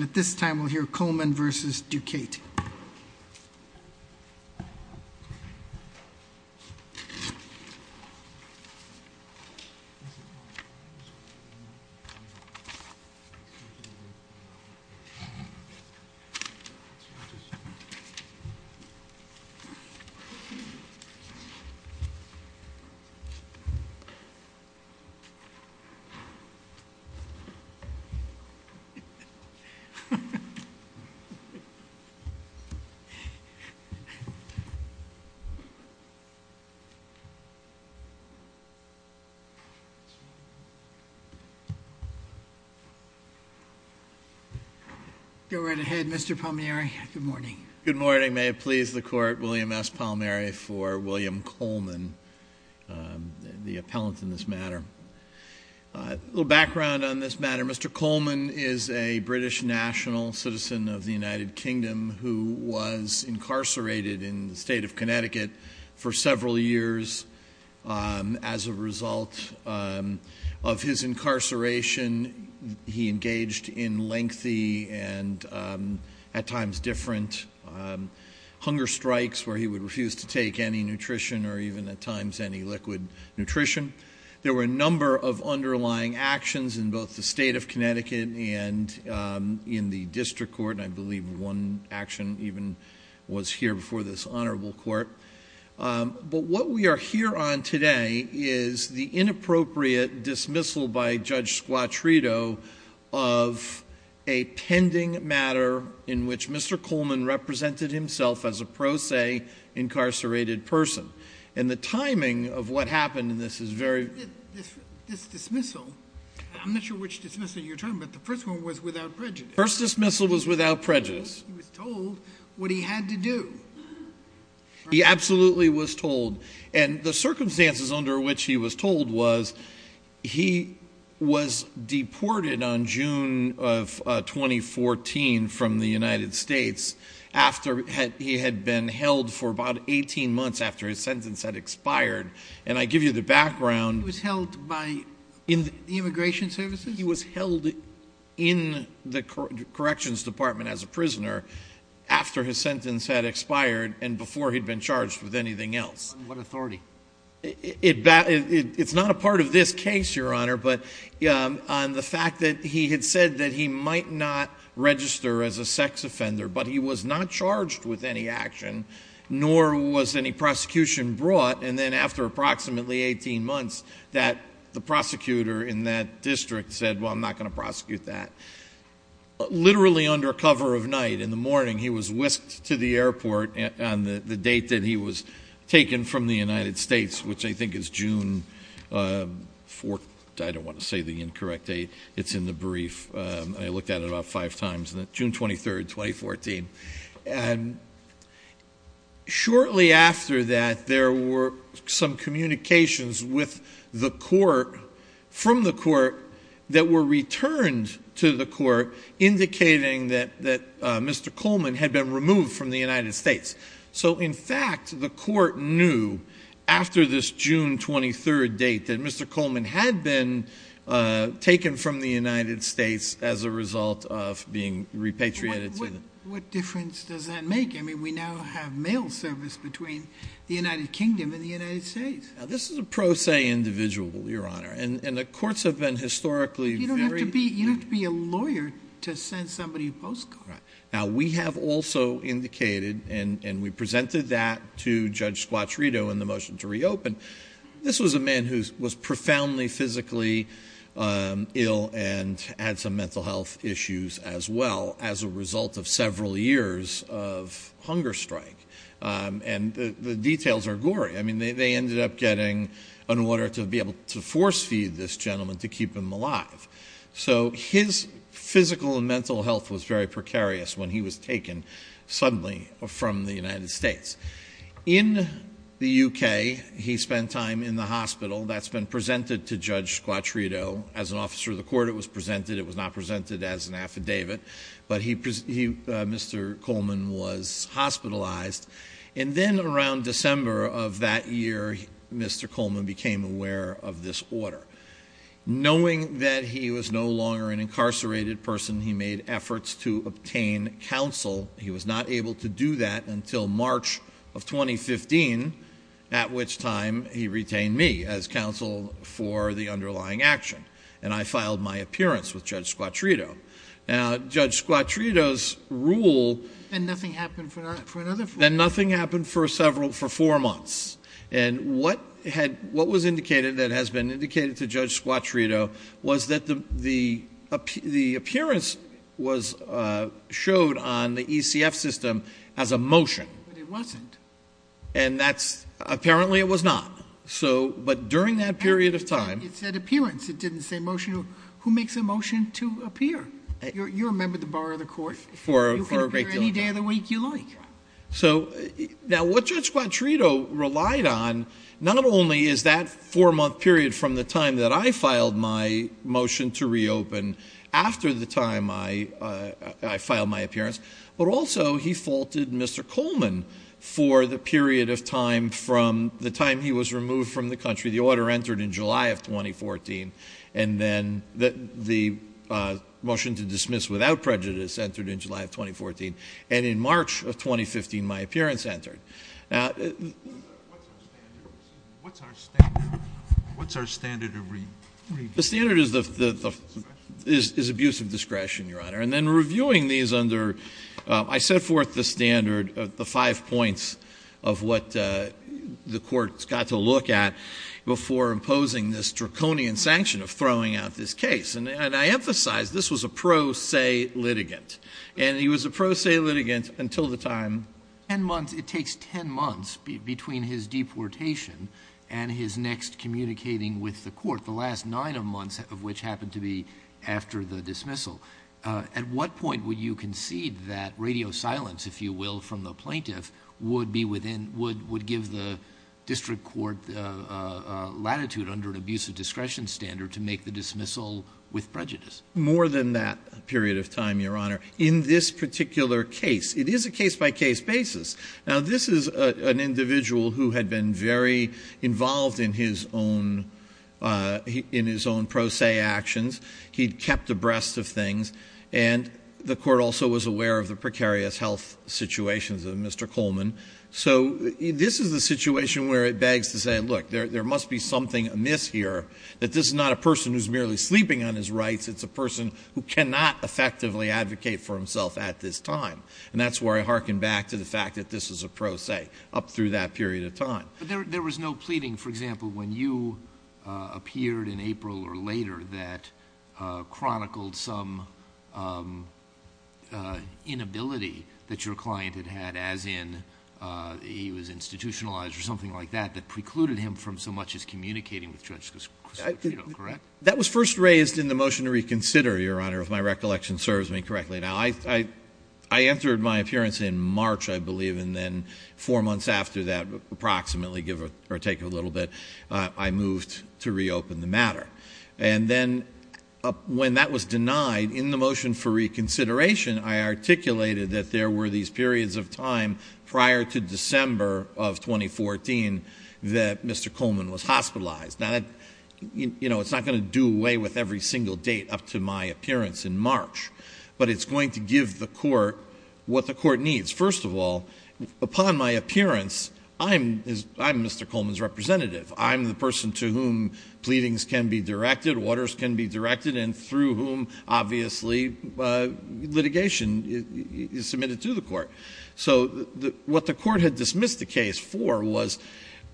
At this time, we'll hear Coleman v. Ducate. Go right ahead, Mr. Palmieri. Good morning. Good morning. May it please the court, William S. Palmieri for William Coleman, the appellant in this matter. A little background on this matter. Mr. Coleman is a British national citizen of the United Kingdom who was incarcerated in the state of Connecticut for several years. As a result of his incarceration, he engaged in lengthy and at times different hunger strikes where he would refuse to take any nutrition or even at times any liquid nutrition. There were a number of underlying actions in both the state of Connecticut and in the district court, and I believe one action even was here before this honorable court. But what we are here on today is the inappropriate dismissal by Judge Squattrito of a pending matter in which Mr. Coleman represented himself as a pro se incarcerated person. And the timing of what happened in this is very... This dismissal, I'm not sure which dismissal you're talking about, the first one was without prejudice. The first dismissal was without prejudice. He was told what he had to do. He absolutely was told. And the circumstances under which he was told was he was deported on June of 2014 from the United States after he had been held for about 18 months after his sentence had expired. And I give you the background. He was held by the immigration services? He was held in the corrections department as a prisoner after his sentence had expired and before he'd been charged with anything else. On what authority? It's not a part of this case, Your Honor, but on the fact that he had said that he might not register as a sex offender, but he was not charged with any action, nor was any prosecution brought. And then after approximately 18 months, the prosecutor in that district said, well, I'm not going to prosecute that. Literally under cover of night, in the morning, he was whisked to the airport on the date that he was taken from the United States, which I think is June 4th. I don't want to say the incorrect date. It's in the brief. I looked at it about five times, June 23rd, 2014. Shortly after that, there were some communications with the court, from the court, that were returned to the court indicating that Mr. Coleman had been removed from the United States. So, in fact, the court knew, after this June 23rd date, that Mr. Coleman had been taken from the United States as a result of being repatriated. What difference does that make? I mean, we now have mail service between the United Kingdom and the United States. This is a pro se individual, Your Honor, and the courts have been historically very— You don't have to be a lawyer to send somebody a postcard. Now, we have also indicated, and we presented that to Judge Squattrido in the motion to reopen, this was a man who was profoundly physically ill and had some mental health issues as well as a result of several years of hunger strike. And the details are gory. I mean, they ended up getting an order to be able to force feed this gentleman to keep him alive. So his physical and mental health was very precarious when he was taken suddenly from the United States. In the U.K., he spent time in the hospital. That's been presented to Judge Squattrido. As an officer of the court, it was presented. It was not presented as an affidavit, but Mr. Coleman was hospitalized. And then around December of that year, Mr. Coleman became aware of this order. Knowing that he was no longer an incarcerated person, he made efforts to obtain counsel. He was not able to do that until March of 2015, at which time he retained me as counsel for the underlying action. And I filed my appearance with Judge Squattrido. Now, Judge Squattrido's rule— Then nothing happened for another four months. Then nothing happened for four months. And what was indicated, that has been indicated to Judge Squattrido, was that the appearance was showed on the ECF system as a motion. But it wasn't. And that's—apparently it was not. But during that period of time— It said appearance. It didn't say motion. Who makes a motion to appear? You're a member of the bar of the court. For a great deal of time. You can appear any day of the week you like. So, now what Judge Squattrido relied on, not only is that four-month period from the time that I filed my motion to reopen, after the time I filed my appearance, but also he faulted Mr. Coleman for the period of time from the time he was removed from the country. The order entered in July of 2014. And then the motion to dismiss without prejudice entered in July of 2014. And in March of 2015, my appearance entered. Now— What's our standard? What's our standard? What's our standard of— The standard is abusive discretion, Your Honor. And then reviewing these under—I set forth the standard of the five points of what the court's got to look at before imposing this draconian sanction of throwing out this case. And I emphasize, this was a pro se litigant. And he was a pro se litigant until the time— Ten months. It takes ten months between his deportation and his next communicating with the court, the last nine months of which happened to be after the dismissal. At what point would you concede that radio silence, if you will, from the plaintiff would be within—would give the district court latitude under an abusive discretion standard to make the dismissal with prejudice? More than that period of time, Your Honor. In this particular case. It is a case-by-case basis. Now, this is an individual who had been very involved in his own pro se actions. He'd kept abreast of things. And the court also was aware of the precarious health situations of Mr. Coleman. So this is the situation where it begs to say, look, there must be something amiss here, that this is not a person who's merely sleeping on his rights. It's a person who cannot effectively advocate for himself at this time. And that's where I hearken back to the fact that this is a pro se up through that period of time. But there was no pleading, for example, when you appeared in April or later that chronicled some inability that your client had had, as in he was institutionalized or something like that, that precluded him from so much as communicating with Judge Cristofino, correct? That was first raised in the motion to reconsider, Your Honor, if my recollection serves me correctly. Now, I entered my appearance in March, I believe, and then four months after that, approximately, give or take a little bit, I moved to reopen the matter. And then when that was denied, in the motion for reconsideration, I articulated that there were these periods of time prior to December of 2014 that Mr. Coleman was hospitalized. Now, it's not going to do away with every single date up to my appearance in March. But it's going to give the court what the court needs. First of all, upon my appearance, I'm Mr. Coleman's representative. I'm the person to whom pleadings can be directed, orders can be directed, and through whom, obviously, litigation is submitted to the court. So what the court had dismissed the case for was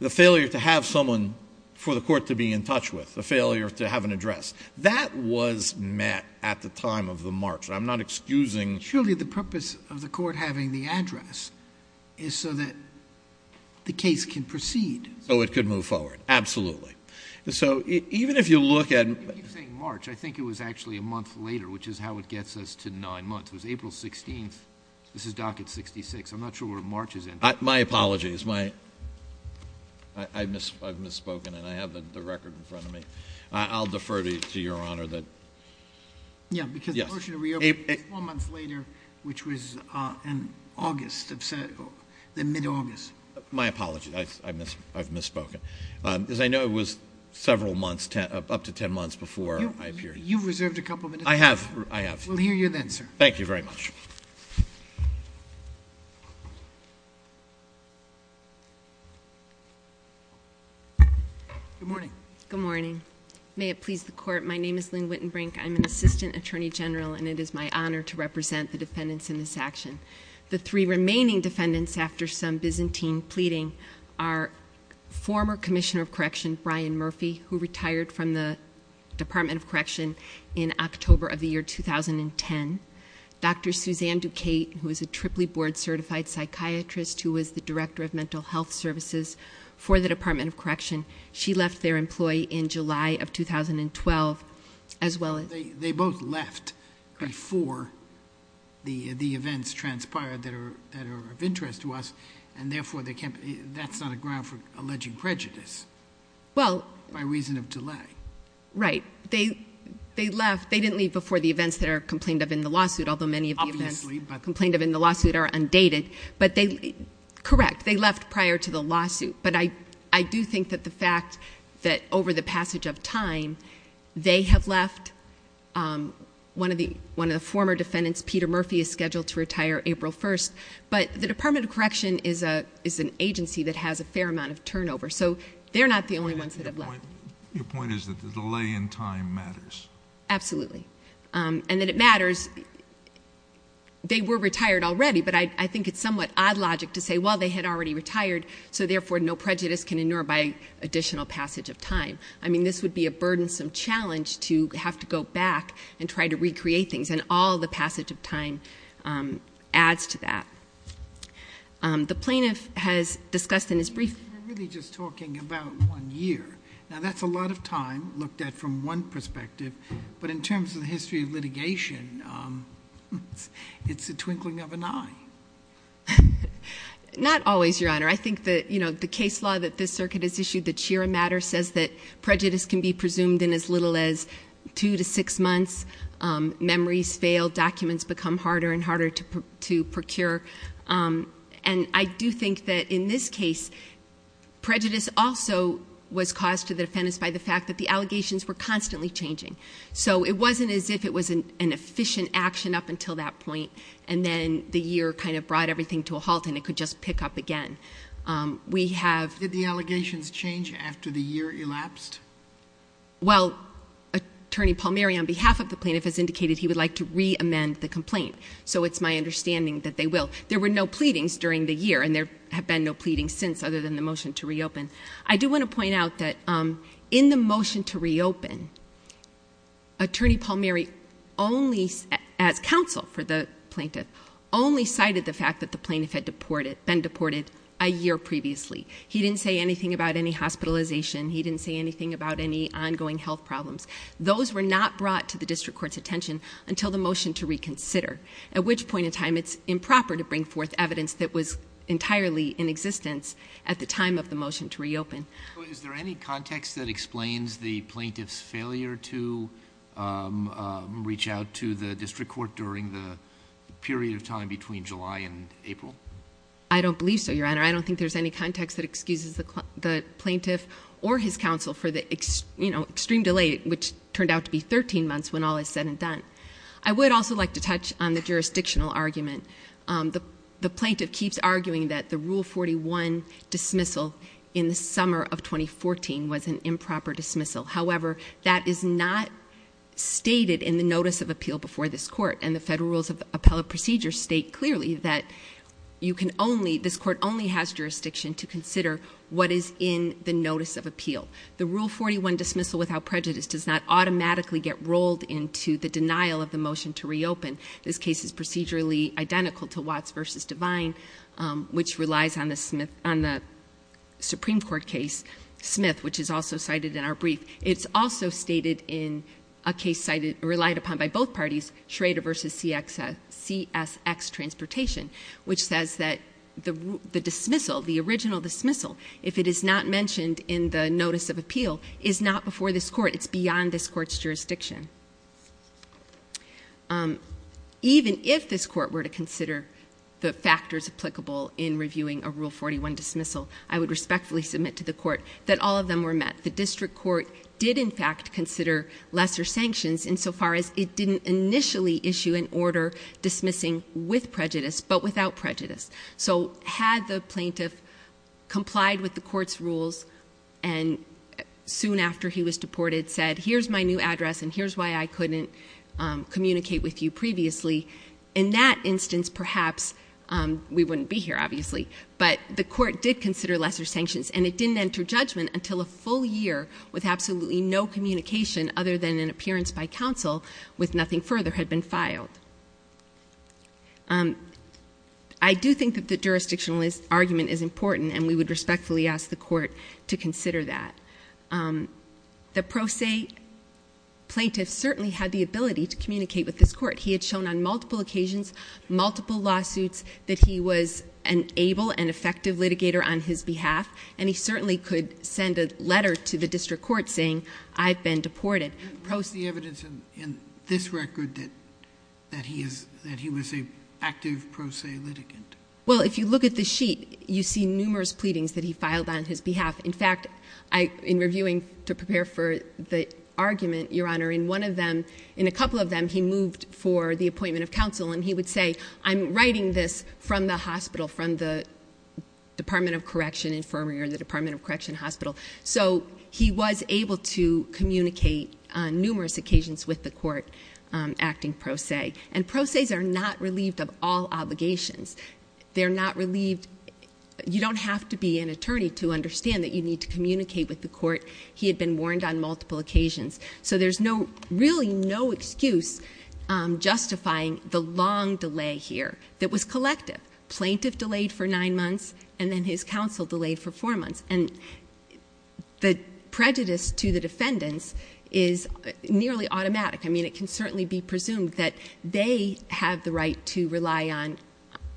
the failure to have someone for the court to be in touch with, the failure to have an address. That was met at the time of the March. I'm not excusing. Surely the purpose of the court having the address is so that the case can proceed. So it could move forward. Absolutely. So even if you look at— You keep saying March. I think it was actually a month later, which is how it gets us to nine months. It was April 16th. This is docket 66. I'm not sure where March is in. My apologies. I've misspoken, and I have the record in front of me. I'll defer to Your Honor that— Yeah, because the motion to reopen was four months later, which was in August, the mid-August. My apologies. I've misspoken. As I know, it was several months, up to ten months before my appearance. You've reserved a couple minutes. I have. We'll hear you then, sir. Thank you very much. Good morning. Good morning. May it please the Court, my name is Lynn Wittenbrink. I'm an assistant attorney general, and it is my honor to represent the defendants in this action. The three remaining defendants, after some Byzantine pleading, are former Commissioner of Correction Brian Murphy, who retired from the Department of Correction in October of the year 2010. Dr. Suzanne Duquette, who is a Tripoli board-certified psychiatrist, who was the director of mental health services for the Department of Correction, she left their employee in July of 2012, as well as— They both left before the events transpired that are of interest to us, and therefore, that's not a ground for alleged prejudice by reason of delay. Right. They left. They didn't leave before the events that are complained of in the lawsuit, although many of the events complained of in the lawsuit are undated. Correct. They left prior to the lawsuit. But I do think that the fact that over the passage of time, they have left. One of the former defendants, Peter Murphy, is scheduled to retire April 1st. But the Department of Correction is an agency that has a fair amount of turnover, so they're not the only ones that have left. Your point is that the delay in time matters. Absolutely, and that it matters. They were retired already, but I think it's somewhat odd logic to say, well, they had already retired, so therefore, no prejudice can inure by additional passage of time. I mean, this would be a burdensome challenge to have to go back and try to recreate things, and all the passage of time adds to that. The plaintiff has discussed in his brief. We're really just talking about one year. Now, that's a lot of time looked at from one perspective, but in terms of the history of litigation, it's a twinkling of an eye. Not always, Your Honor. I think the case law that this circuit has issued, the Chira matter, says that prejudice can be presumed in as little as two to six months. Memories fail. Documents become harder and harder to procure. And I do think that in this case, prejudice also was caused to the defendants by the fact that the allegations were constantly changing. So it wasn't as if it was an efficient action up until that point, and then the year kind of brought everything to a halt and it could just pick up again. Did the allegations change after the year elapsed? Well, Attorney Palmeri, on behalf of the plaintiff, has indicated he would like to reamend the complaint. So it's my understanding that they will. There were no pleadings during the year, and there have been no pleadings since other than the motion to reopen. I do want to point out that in the motion to reopen, Attorney Palmeri only, as counsel for the plaintiff, only cited the fact that the plaintiff had been deported a year previously. He didn't say anything about any hospitalization. He didn't say anything about any ongoing health problems. Those were not brought to the district court's attention until the motion to reconsider, at which point in time it's improper to bring forth evidence that was entirely in existence at the time of the motion to reopen. Is there any context that explains the plaintiff's failure to reach out to the district court during the period of time between July and April? I don't believe so, Your Honor. I don't think there's any context that excuses the plaintiff or his counsel for the extreme delay, which turned out to be 13 months when all is said and done. I would also like to touch on the jurisdictional argument. The plaintiff keeps arguing that the Rule 41 dismissal in the summer of 2014 was an improper dismissal. However, that is not stated in the notice of appeal before this court, and the federal rules of appellate procedure state clearly that this court only has jurisdiction to consider what is in the notice of appeal. The Rule 41 dismissal without prejudice does not automatically get rolled into the denial of the motion to reopen. This case is procedurally identical to Watts v. Divine, which relies on the Supreme Court case, Smith, which is also cited in our brief. It's also stated in a case relied upon by both parties, Schrader v. CSX Transportation, which says that the original dismissal, if it is not mentioned in the notice of appeal, is not before this court. It's beyond this court's jurisdiction. Even if this court were to consider the factors applicable in reviewing a Rule 41 dismissal, I would respectfully submit to the court that all of them were met. The district court did, in fact, consider lesser sanctions insofar as it didn't initially issue an order dismissing with prejudice but without prejudice. So had the plaintiff complied with the court's rules and soon after he was deported, had said, here's my new address and here's why I couldn't communicate with you previously, in that instance, perhaps we wouldn't be here, obviously. But the court did consider lesser sanctions and it didn't enter judgment until a full year with absolutely no communication other than an appearance by counsel with nothing further had been filed. I do think that the jurisdictional argument is important and we would respectfully ask the court to consider that. The pro se plaintiff certainly had the ability to communicate with this court. He had shown on multiple occasions, multiple lawsuits, that he was an able and effective litigator on his behalf. And he certainly could send a letter to the district court saying, I've been deported. Post the evidence in this record that he was an active pro se litigant. Well, if you look at the sheet, you see numerous pleadings that he filed on his behalf. In fact, in reviewing to prepare for the argument, Your Honor, in one of them, in a couple of them, he moved for the appointment of counsel and he would say, I'm writing this from the hospital, from the Department of Correction infirmary or the Department of Correction hospital. So he was able to communicate on numerous occasions with the court acting pro se. And pro ses are not relieved of all obligations. They're not relieved. You don't have to be an attorney to understand that you need to communicate with the court. He had been warned on multiple occasions. So there's no, really no excuse justifying the long delay here that was collective. Plaintiff delayed for nine months and then his counsel delayed for four months. And the prejudice to the defendants is nearly automatic. I mean, it can certainly be presumed that they have the right to rely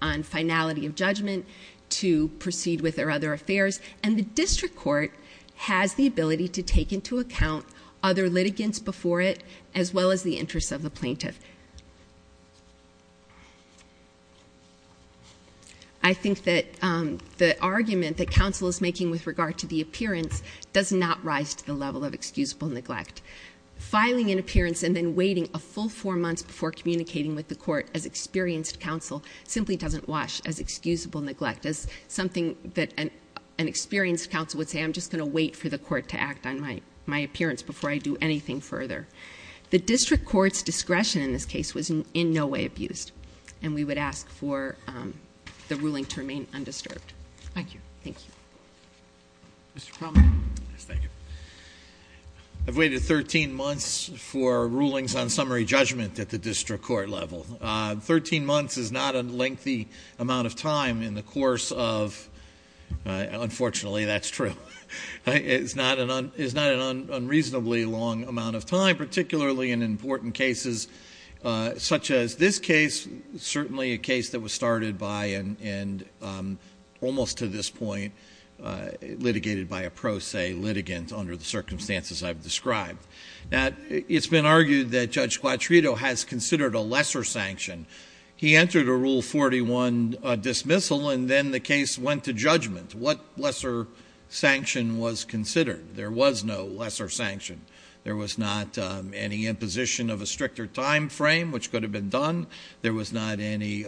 on finality of judgment, to proceed with their other affairs, and the district court has the ability to take into account other litigants before it as well as the interests of the plaintiff. I think that the argument that counsel is making with regard to the appearance does not rise to the level of excusable neglect. Filing an appearance and then waiting a full four months before communicating with the court as experienced counsel simply doesn't wash as excusable neglect. As something that an experienced counsel would say, I'm just going to wait for the court to act on my appearance before I do anything further. The district court's discretion in this case was in no way abused. And we would ask for the ruling to remain undisturbed. Thank you. Thank you. Mr. Plummer. Yes, thank you. I've waited 13 months for rulings on summary judgment at the district court level. Thirteen months is not a lengthy amount of time in the course of, unfortunately, that's true. It's not an unreasonably long amount of time, particularly in important cases such as this case, certainly a case that was started by and almost to this point litigated by a pro se litigant under the circumstances I've described. Now, it's been argued that Judge Quattrito has considered a lesser sanction. He entered a Rule 41 dismissal and then the case went to judgment. What lesser sanction was considered? There was no lesser sanction. There was not any imposition of a stricter time frame, which could have been done. There was not any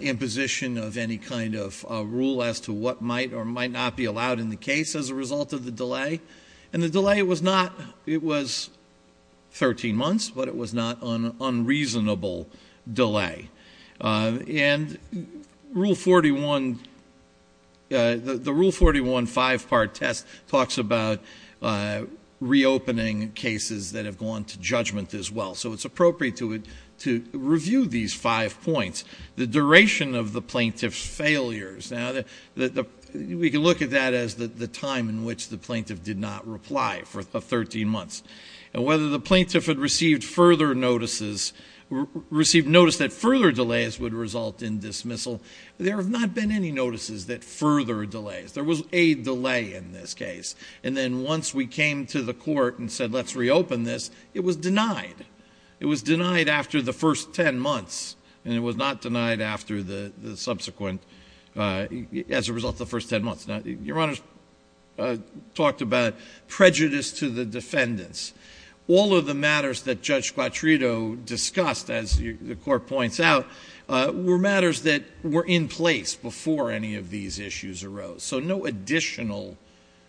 imposition of any kind of rule as to what might or might not be allowed in the case as a result of the delay. And the delay was not, it was 13 months, but it was not an unreasonable delay. And Rule 41, the Rule 41 five-part test talks about reopening cases that have gone to judgment as well. So it's appropriate to review these five points. The duration of the plaintiff's failures. Now, we can look at that as the time in which the plaintiff did not reply for 13 months. And whether the plaintiff had received further notices, received notice that further delays would result in dismissal, there have not been any notices that further delays. There was a delay in this case. And then once we came to the court and said, let's reopen this, it was denied. It was denied after the first 10 months. And it was not denied after the subsequent, as a result of the first 10 months. Now, Your Honors talked about prejudice to the defendants. All of the matters that Judge Quattrito discussed, as the court points out, were matters that were in place before any of these issues arose. So no additional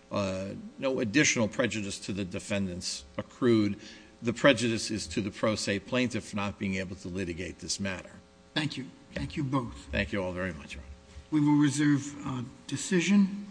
prejudice to the defendants accrued. The prejudice is to the pro se plaintiff for not being able to litigate this matter. Thank you. Thank you both. Thank you all very much. We will reserve decision.